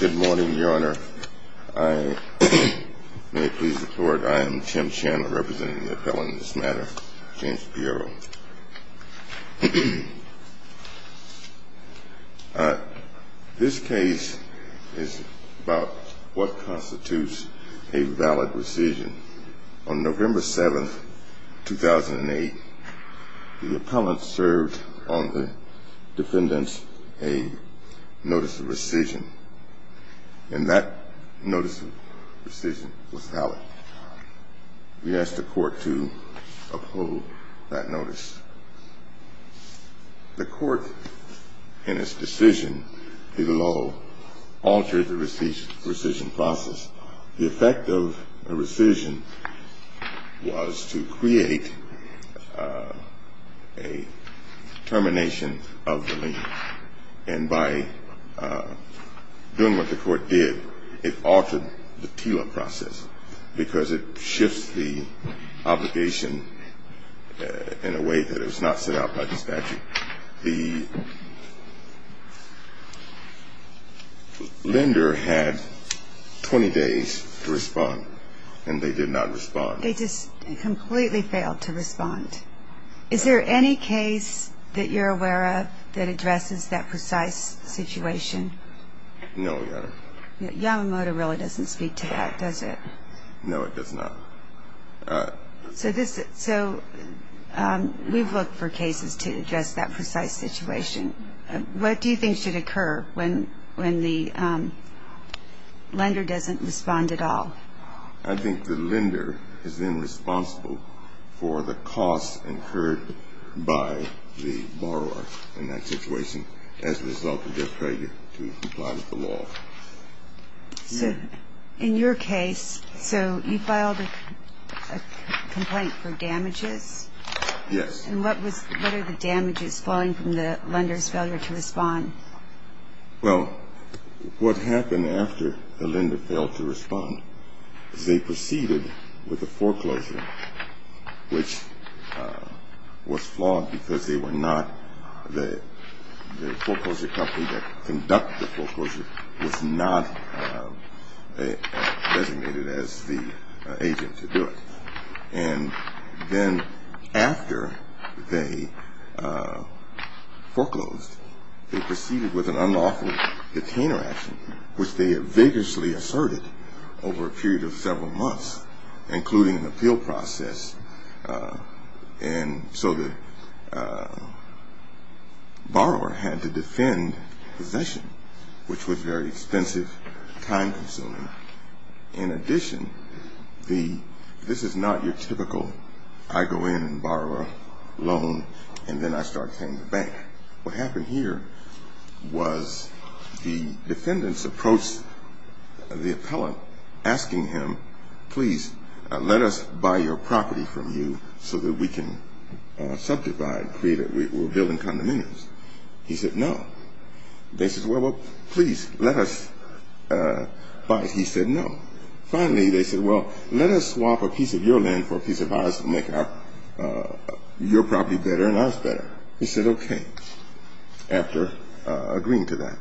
Good morning, Your Honor. I am Tim Chandler, representing the appellant in this matter, James Pierro. This case is about what constitutes a valid rescission. On November 7, 2008, the appellant served on the defendant's aid notice of rescission, and that notice of rescission was valid. We asked the court to uphold that notice. The court, in its decision to the law, altered the rescission process. The effect of the rescission was to create a termination of the lien, and by doing what the court did, it altered the TILA process, because it shifts the obligation in a way that it was not set out by the statute. The lender had 20 days to respond, and they did not respond. They just completely failed to respond. Is there any case that you're aware of that addresses that precise situation? No, Your Honor. Yamamoto really doesn't speak to that, does it? No, it does not. So we've looked for cases to address that precise situation. What do you think should occur when the lender doesn't respond at all? I think the lender is then responsible for the cost incurred by the borrower in that situation as a result of their failure to comply with the law. So in your case, so you filed a complaint for damages? Yes. And what are the damages falling from the lender's failure to respond? Well, what happened after the lender failed to respond is they proceeded with a foreclosure, which was flawed because they were not the foreclosure company that conducted the foreclosure, was not designated as the agent to do it. And then after they foreclosed, they proceeded with an unlawful detainer action, which they had vigorously asserted over a period of several months, including an appeal process. And so the borrower had to defend possession, which was very expensive, time-consuming. In addition, this is not your typical I go in and borrow a loan, and then I start paying the bank. What happened here was the defendants approached the appellant asking him, please, let us buy your property from you so that we can subdivide, we're building condominiums. He said no. They said, well, please, let us buy. He said no. Finally, they said, well, let us swap a piece of your land for a piece of ours and make your property better and ours better. He said okay, after agreeing to that.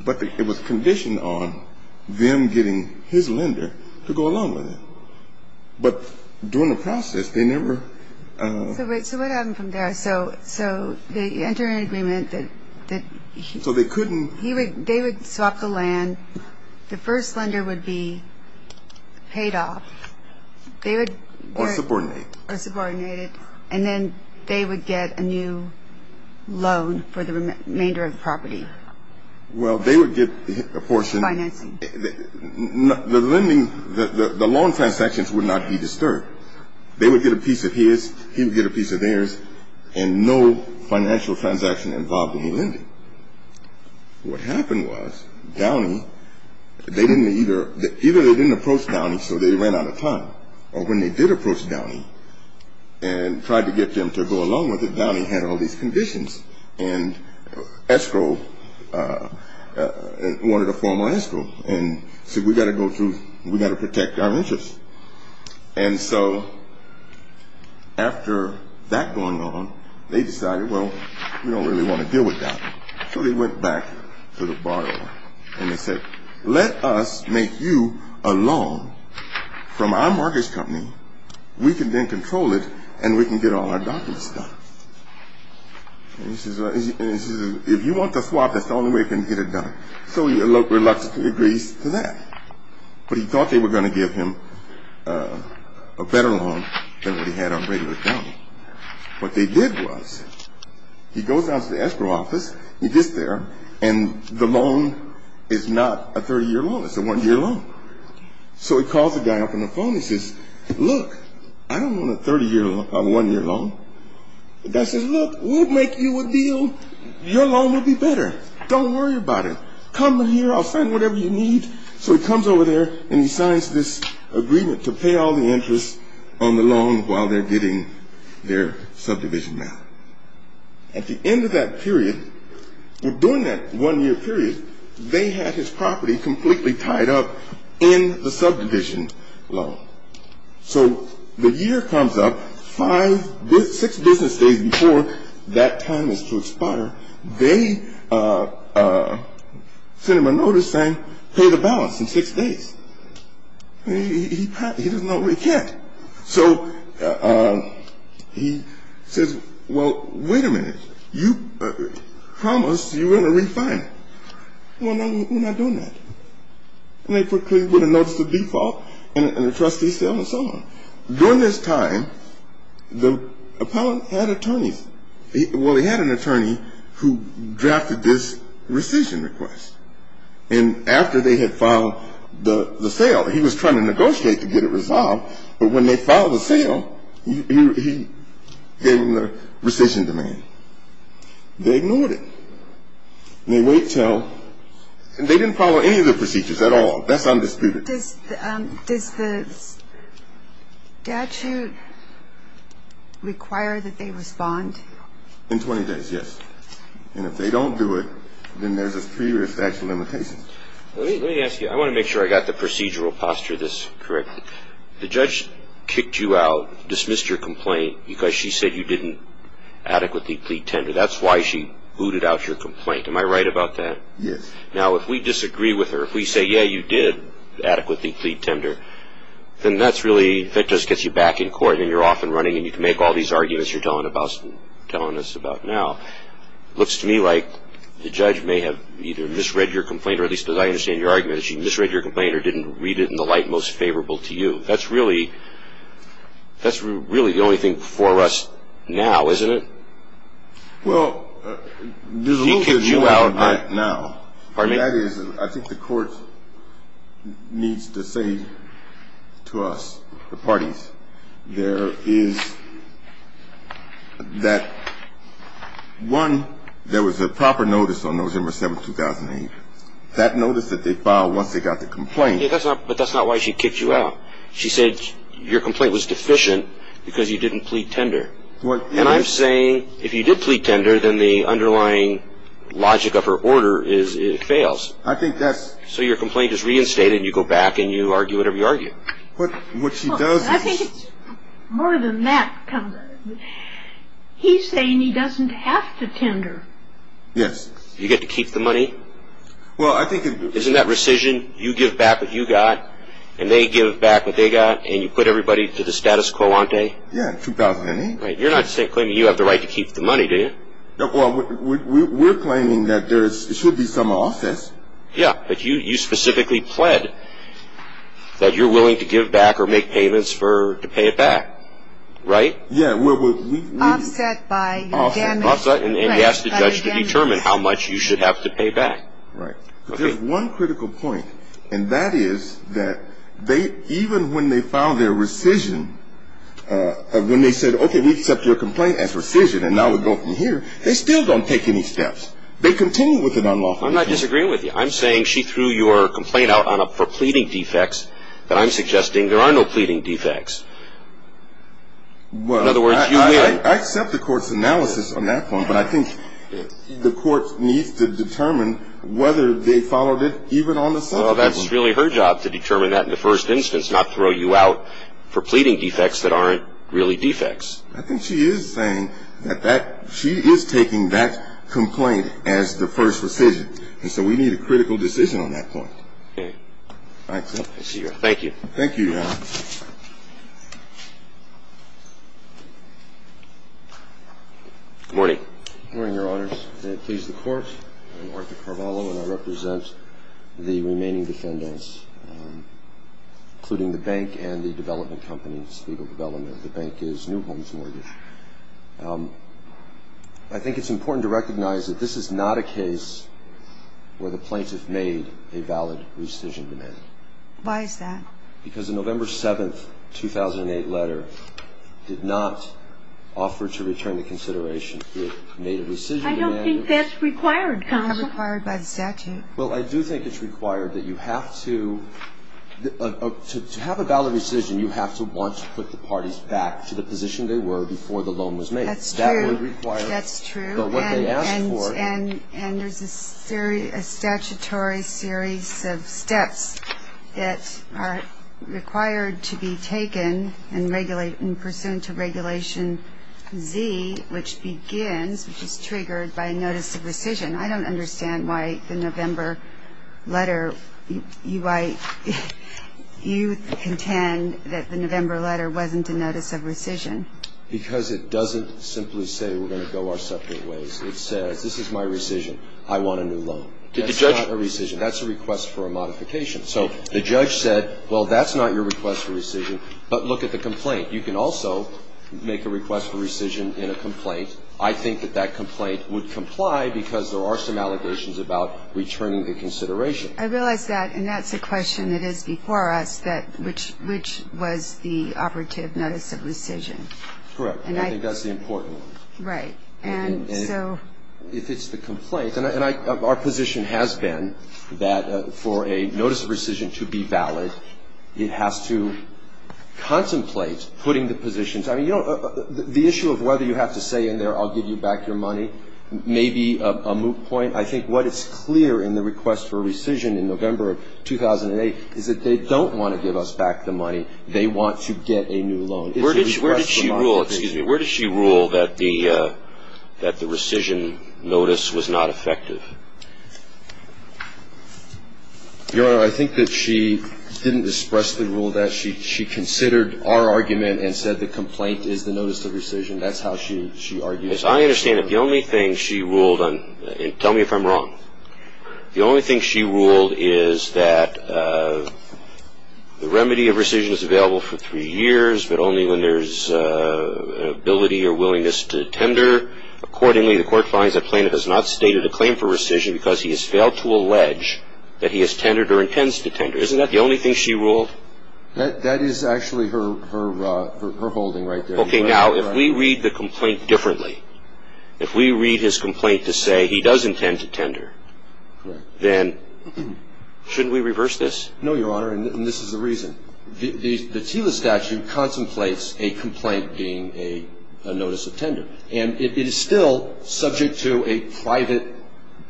But it was conditioned on them getting his lender to go along with it. But during the process, they never. So what happened from there? So they entered an agreement that he. So they couldn't. They would swap the land. The first lender would be paid off. Or subordinated. Or subordinated. And then they would get a new loan for the remainder of the property. Well, they would get a portion. Financing. The lending, the loan transactions would not be disturbed. They would get a piece of his. He would get a piece of theirs. And no financial transaction involved in the lending. What happened was Downey, they didn't either. Either they didn't approach Downey, so they ran out of time. Or when they did approach Downey and tried to get them to go along with it, Downey had all these conditions. And escrow wanted a formal escrow. And said we've got to go through. We've got to protect our interests. And so after that going on, they decided, well, we don't really want to deal with Downey. So they went back to the borrower. And they said, let us make you a loan from our mortgage company. We can then control it. And we can get all our documents done. And he says, if you want to swap, that's the only way you can get it done. So he reluctantly agrees to that. But he thought they were going to give him a better loan than what he had on regular Downey. What they did was he goes down to the escrow office. He gets there. And the loan is not a 30-year loan. It's a one-year loan. So he calls the guy up on the phone. He says, look, I don't want a 30-year loan, a one-year loan. The guy says, look, we'll make you a deal. Your loan will be better. Don't worry about it. Come here. I'll send whatever you need. So he comes over there and he signs this agreement to pay all the interest on the loan while they're getting their subdivision now. At the end of that period, well, during that one-year period, they had his property completely tied up in the subdivision loan. So the year comes up, five, six business days before that time is to expire. They send him a notice saying pay the balance in six days. He doesn't know where he can't. So he says, well, wait a minute. You promised you were going to refine it. Well, we're not doing that. And they put a notice of default and a trustee sale and so on. During this time, the appellant had attorneys. Well, he had an attorney who drafted this rescission request. And after they had filed the sale, he was trying to negotiate to get it resolved. But when they filed the sale, he gave them the rescission demand. They ignored it. They wait until they didn't follow any of the procedures at all. That's undisputed. Does the statute require that they respond? In 20 days, yes. And if they don't do it, then there's a three-year statute of limitations. Let me ask you. I want to make sure I got the procedural posture this correct. The judge kicked you out, dismissed your complaint because she said you didn't adequately plead tender. That's why she booted out your complaint. Am I right about that? Yes. Now, if we disagree with her, if we say, yeah, you did adequately plead tender, then that just gets you back in court and you're off and running and you can make all these arguments you're telling us about now. It looks to me like the judge may have either misread your complaint, or at least as I understand your argument, she misread your complaint or didn't read it in the light most favorable to you. That's really the only thing for us now, isn't it? Well, there's a rule that you have now. Pardon me? That is, I think the court needs to say to us, the parties, there is that one, there was a proper notice on November 7th, 2008. That notice that they filed once they got the complaint. Yeah, but that's not why she kicked you out. She said your complaint was deficient because you didn't plead tender. And I'm saying if you did plead tender, then the underlying logic of her order is it fails. I think that's. So your complaint is reinstated and you go back and you argue whatever you argue. What she does is. I think it's more than that. He's saying he doesn't have to tender. Yes. You get to keep the money. Well, I think. Isn't that rescission? You give back what you got and they give back what they got and you put everybody to the status quoante. Yeah, 2008. You're not claiming you have the right to keep the money, do you? Well, we're claiming that there should be some offsets. Yeah, but you specifically pled that you're willing to give back or make payments to pay it back. Right? Yeah. Offset by damage. And he asked the judge to determine how much you should have to pay back. Right. There's one critical point, and that is that even when they filed their rescission, when they said, okay, we accept your complaint as rescission and now we go from here, they still don't take any steps. They continue with an unlawful appeal. I'm not disagreeing with you. I'm saying she threw your complaint out for pleading defects, but I'm suggesting there are no pleading defects. In other words, you will. I accept the court's analysis on that point, but I think the court needs to determine whether they followed it even on the subject. Well, that's really her job to determine that in the first instance, not throw you out for pleading defects that aren't really defects. I think she is saying that she is taking that complaint as the first rescission, and so we need a critical decision on that point. I accept. Thank you. Thank you, Your Honor. Good morning. Good morning, Your Honors. May it please the Court, I'm Arthur Carvalho, and I represent the remaining defendants, including the bank and the development company, Spiegel Development. The bank is New Homes Mortgage. I think it's important to recognize that this is not a case where the plaintiff made a valid rescission demand. Why is that? Because the November 7, 2008, letter did not offer to return the consideration. It made a rescission demand. I don't think that's required, counsel. It's not required by the statute. Well, I do think it's required that you have to, to have a valid rescission, you have to want to put the parties back to the position they were before the loan was made. That's true. That would require. That's true. But what they asked for. And there's a statutory series of steps that are required to be taken in pursuant to Regulation Z, which begins, which is triggered by a notice of rescission. I don't understand why the November letter, you contend that the November letter wasn't a notice of rescission. Because it doesn't simply say we're going to go our separate ways. It says this is my rescission. I want a new loan. That's not a rescission. That's a request for a modification. So the judge said, well, that's not your request for rescission, but look at the complaint. You can also make a request for rescission in a complaint. I think that that complaint would comply because there are some allegations about returning the consideration. I realize that, and that's a question that is before us, that which was the operative notice of rescission. Correct. And I think that's the important one. Right. And so. If it's the complaint, and our position has been that for a notice of rescission to be valid, it has to contemplate putting the positions. I mean, you know, the issue of whether you have to say in there I'll give you back your money may be a moot point. I think what is clear in the request for rescission in November of 2008 is that they don't want to give us back the money. They want to get a new loan. Where did she rule, excuse me, where did she rule that the rescission notice was not effective? Your Honor, I think that she didn't express the rule of that. She considered our argument and said the complaint is the notice of rescission. That's how she argues. As I understand it, the only thing she ruled on, and tell me if I'm wrong, the only thing she ruled is that the remedy of rescission is available for three years, but only when there's ability or willingness to tender accordingly. The court finds that plaintiff has not stated a claim for rescission because he has failed to allege that he has tendered or intends to tender. Isn't that the only thing she ruled? That is actually her holding right there. Okay. Now, if we read the complaint differently, if we read his complaint to say he does intend to tender, then shouldn't we reverse this? No, Your Honor, and this is the reason. The TILA statute contemplates a complaint being a notice of tender, and it is still subject to a private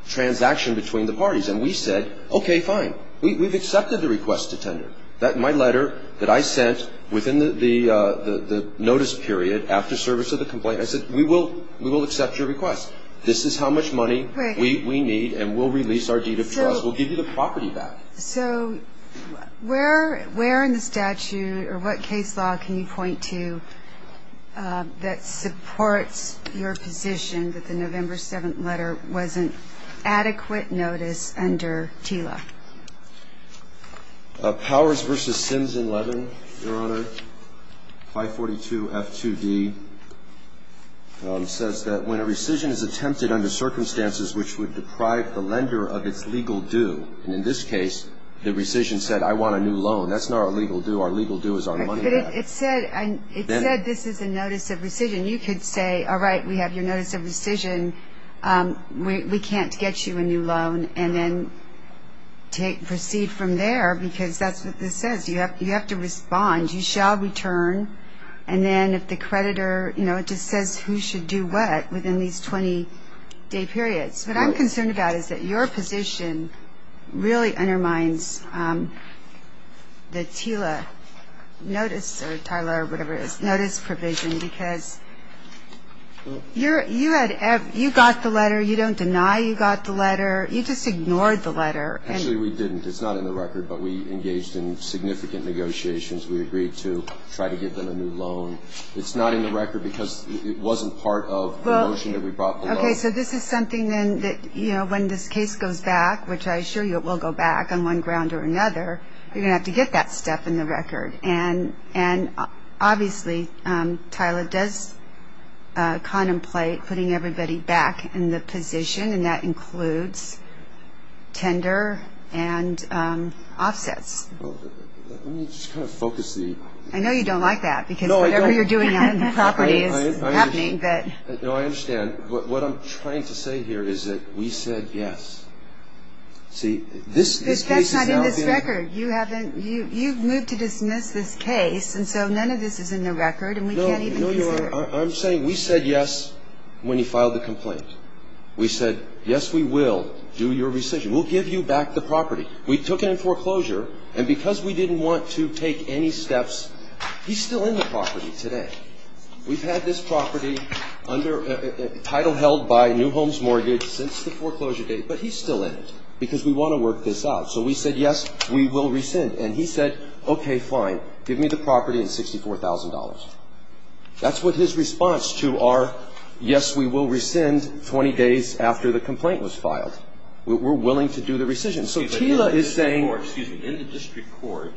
transaction between the parties. And we said, okay, fine. We've accepted the request to tender. My letter that I sent within the notice period after service of the complaint, I said we will accept your request. This is how much money we need, and we'll release our deed of trust. We'll give you the property back. So where in the statute or what case law can you point to that supports your position that the November 7th letter wasn't adequate notice under TILA? Powers v. Sims and Levin, Your Honor, 542F2D, says that when a rescission is attempted under circumstances which would deprive the lender of its legal due, and in this case, the rescission said I want a new loan. That's not our legal due. Our legal due is our money back. But it said this is a notice of rescission. You could say, all right, we have your notice of rescission. We can't get you a new loan. And then proceed from there because that's what this says. You have to respond. You shall return. And then if the creditor, you know, just says who should do what within these 20-day periods. What I'm concerned about is that your position really undermines the TILA notice, or TILA or whatever it is, notice provision because you got the letter. You don't deny you got the letter. You just ignored the letter. Actually, we didn't. It's not in the record. But we engaged in significant negotiations. We agreed to try to give them a new loan. It's not in the record because it wasn't part of the motion that we brought the loan. Okay. So this is something then that, you know, when this case goes back, which I assure you it will go back on one ground or another, you're going to have to get that stuff in the record. And obviously TILA does contemplate putting everybody back in the position, and that includes tender and offsets. Let me just kind of focus the... I know you don't like that because whatever you're doing on the property is happening. No, I understand. What I'm trying to say here is that we said yes. See, this case is now... That's not in this record. You haven't... You've moved to dismiss this case, and so none of this is in the record, and we can't even consider. No, you are. I'm saying we said yes when you filed the complaint. We said yes, we will do your rescission. We'll give you back the property. We took it in foreclosure, and because we didn't want to take any steps... He's still in the property today. We've had this property under a title held by New Homes Mortgage since the foreclosure date, but he's still in it because we want to work this out. So we said yes, we will rescind. And he said, okay, fine. Give me the property and $64,000. That's what his response to our yes, we will rescind 20 days after the complaint was filed. We're willing to do the rescission. So Tila is saying... Excuse me. In the district court...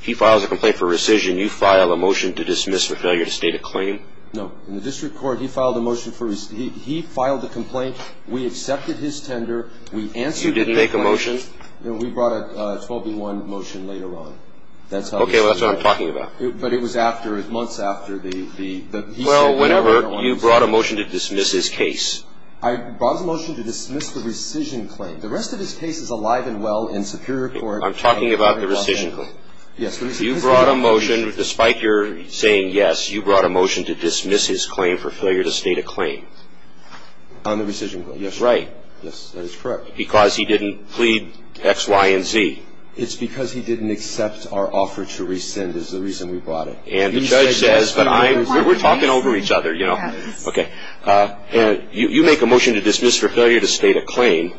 He files a complaint for rescission. You file a motion to dismiss for failure to state a claim. No. In the district court, he filed a motion for... He filed the complaint. We accepted his tender. We answered... You didn't make a motion. We brought a 12-1 motion later on. That's how... Okay, well, that's what I'm talking about. But it was after... Months after the... Well, whenever you brought a motion to dismiss his case. I brought a motion to dismiss the rescission claim. The rest of his case is alive and well in Superior Court. I'm talking about the rescission claim. Yes. You brought a motion... Despite your saying yes, you brought a motion to dismiss his claim for failure to state a claim. On the rescission claim, yes. Right. Yes, that is correct. Because he didn't plead X, Y, and Z. It's because he didn't accept our offer to rescind is the reason we brought it. And the judge says... He said yes. We were talking over each other, you know. Yes. Okay. You make a motion to dismiss for failure to state a claim.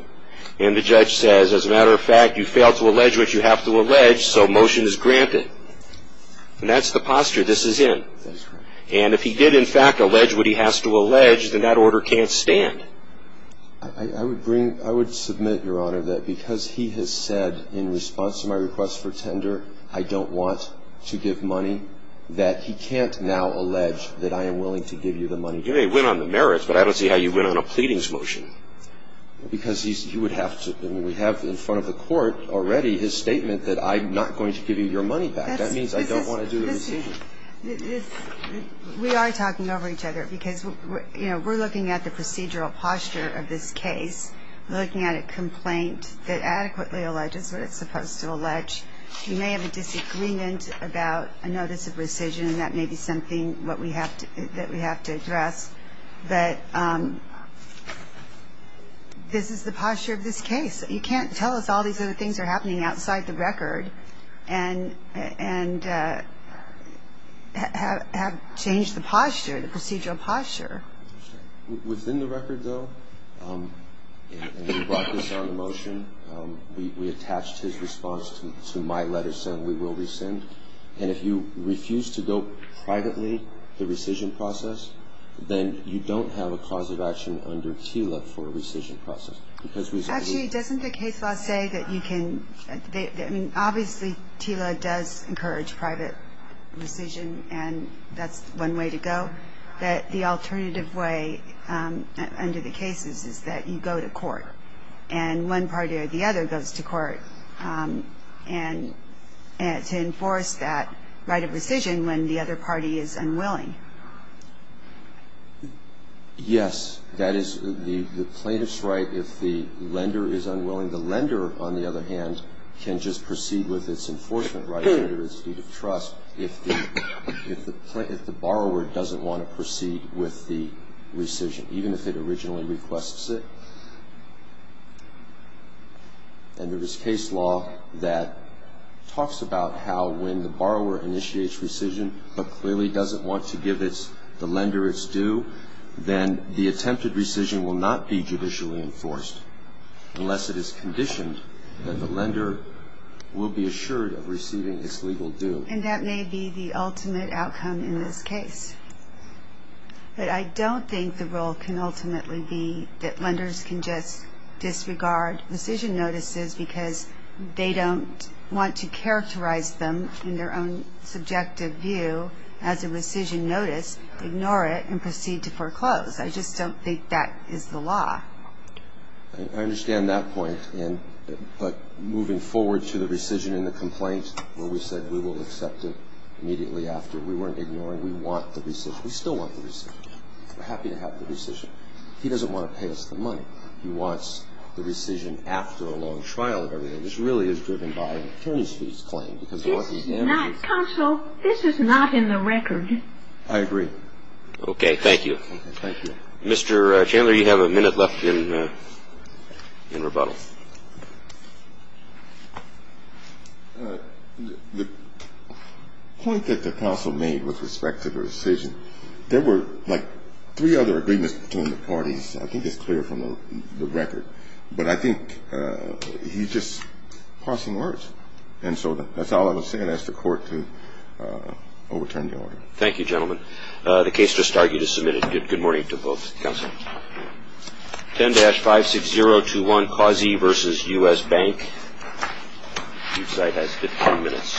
And the judge says, as a matter of fact, you failed to allege what you have to allege, so motion is granted. And that's the posture this is in. That is correct. And if he did, in fact, allege what he has to allege, then that order can't stand. I would bring... I would submit, Your Honor, that because he has said in response to my request for tender, I don't want to give money, that he can't now allege that I am willing to give you the money. You may win on the merits, but I don't see how you win on a pleadings motion. Because he would have to... And we have in front of the court already his statement that I'm not going to give you your money back. That means I don't want to do the rescission. We are talking over each other because, you know, we're looking at the procedural posture of this case. We're looking at a complaint that adequately alleges what it's supposed to allege. You may have a disagreement about a notice of rescission, and that may be something that we have to address. But this is the posture of this case. You can't tell us all these other things are happening outside the record. And have changed the posture, the procedural posture. Within the record, though, and you brought this on the motion, we attached his response to my letter saying we will rescind. And if you refuse to go privately, the rescission process, then you don't have a cause of action under KELA for a rescission process. Actually, doesn't the case law say that you can... I mean, obviously, KELA does encourage private rescission, and that's one way to go. But the alternative way under the cases is that you go to court. And one party or the other goes to court to enforce that right of rescission when the other party is unwilling. Yes. That is the plaintiff's right if the lender is unwilling. The lender, on the other hand, can just proceed with its enforcement right under its deed of trust if the borrower doesn't want to proceed with the rescission, even if it originally requests it. And there is case law that talks about how when the borrower initiates rescission but clearly doesn't want to give the lender its due, then the attempted rescission will not be judicially enforced unless it is conditioned that the lender will be assured of receiving its legal due. And that may be the ultimate outcome in this case. But I don't think the rule can ultimately be that lenders can just disregard rescission notices because they don't want to characterize them in their own subjective view as a rescission notice, ignore it, and proceed to foreclose. I just don't think that is the law. I understand that point. But moving forward to the rescission and the complaint where we said we will accept it immediately after, we weren't ignoring. We want the rescission. We still want the rescission. We're happy to have the rescission. He doesn't want to pay us the money. He wants the rescission after a long trial of everything. This really is driven by an attorney's fees claim because they want these damages. Counsel, this is not in the record. I agree. Okay. Thank you. Thank you. Mr. Chandler, you have a minute left in rebuttal. The point that the counsel made with respect to the rescission, there were, like, three other agreements between the parties. I think it's clear from the record. But I think he's just passing words. And so that's all I will say. I'll ask the Court to overturn the order. Thank you, gentlemen. The case just argued is submitted. Good morning to both counsel. 10-56021, Qazi v. U.S. Bank. Your side has 15 minutes.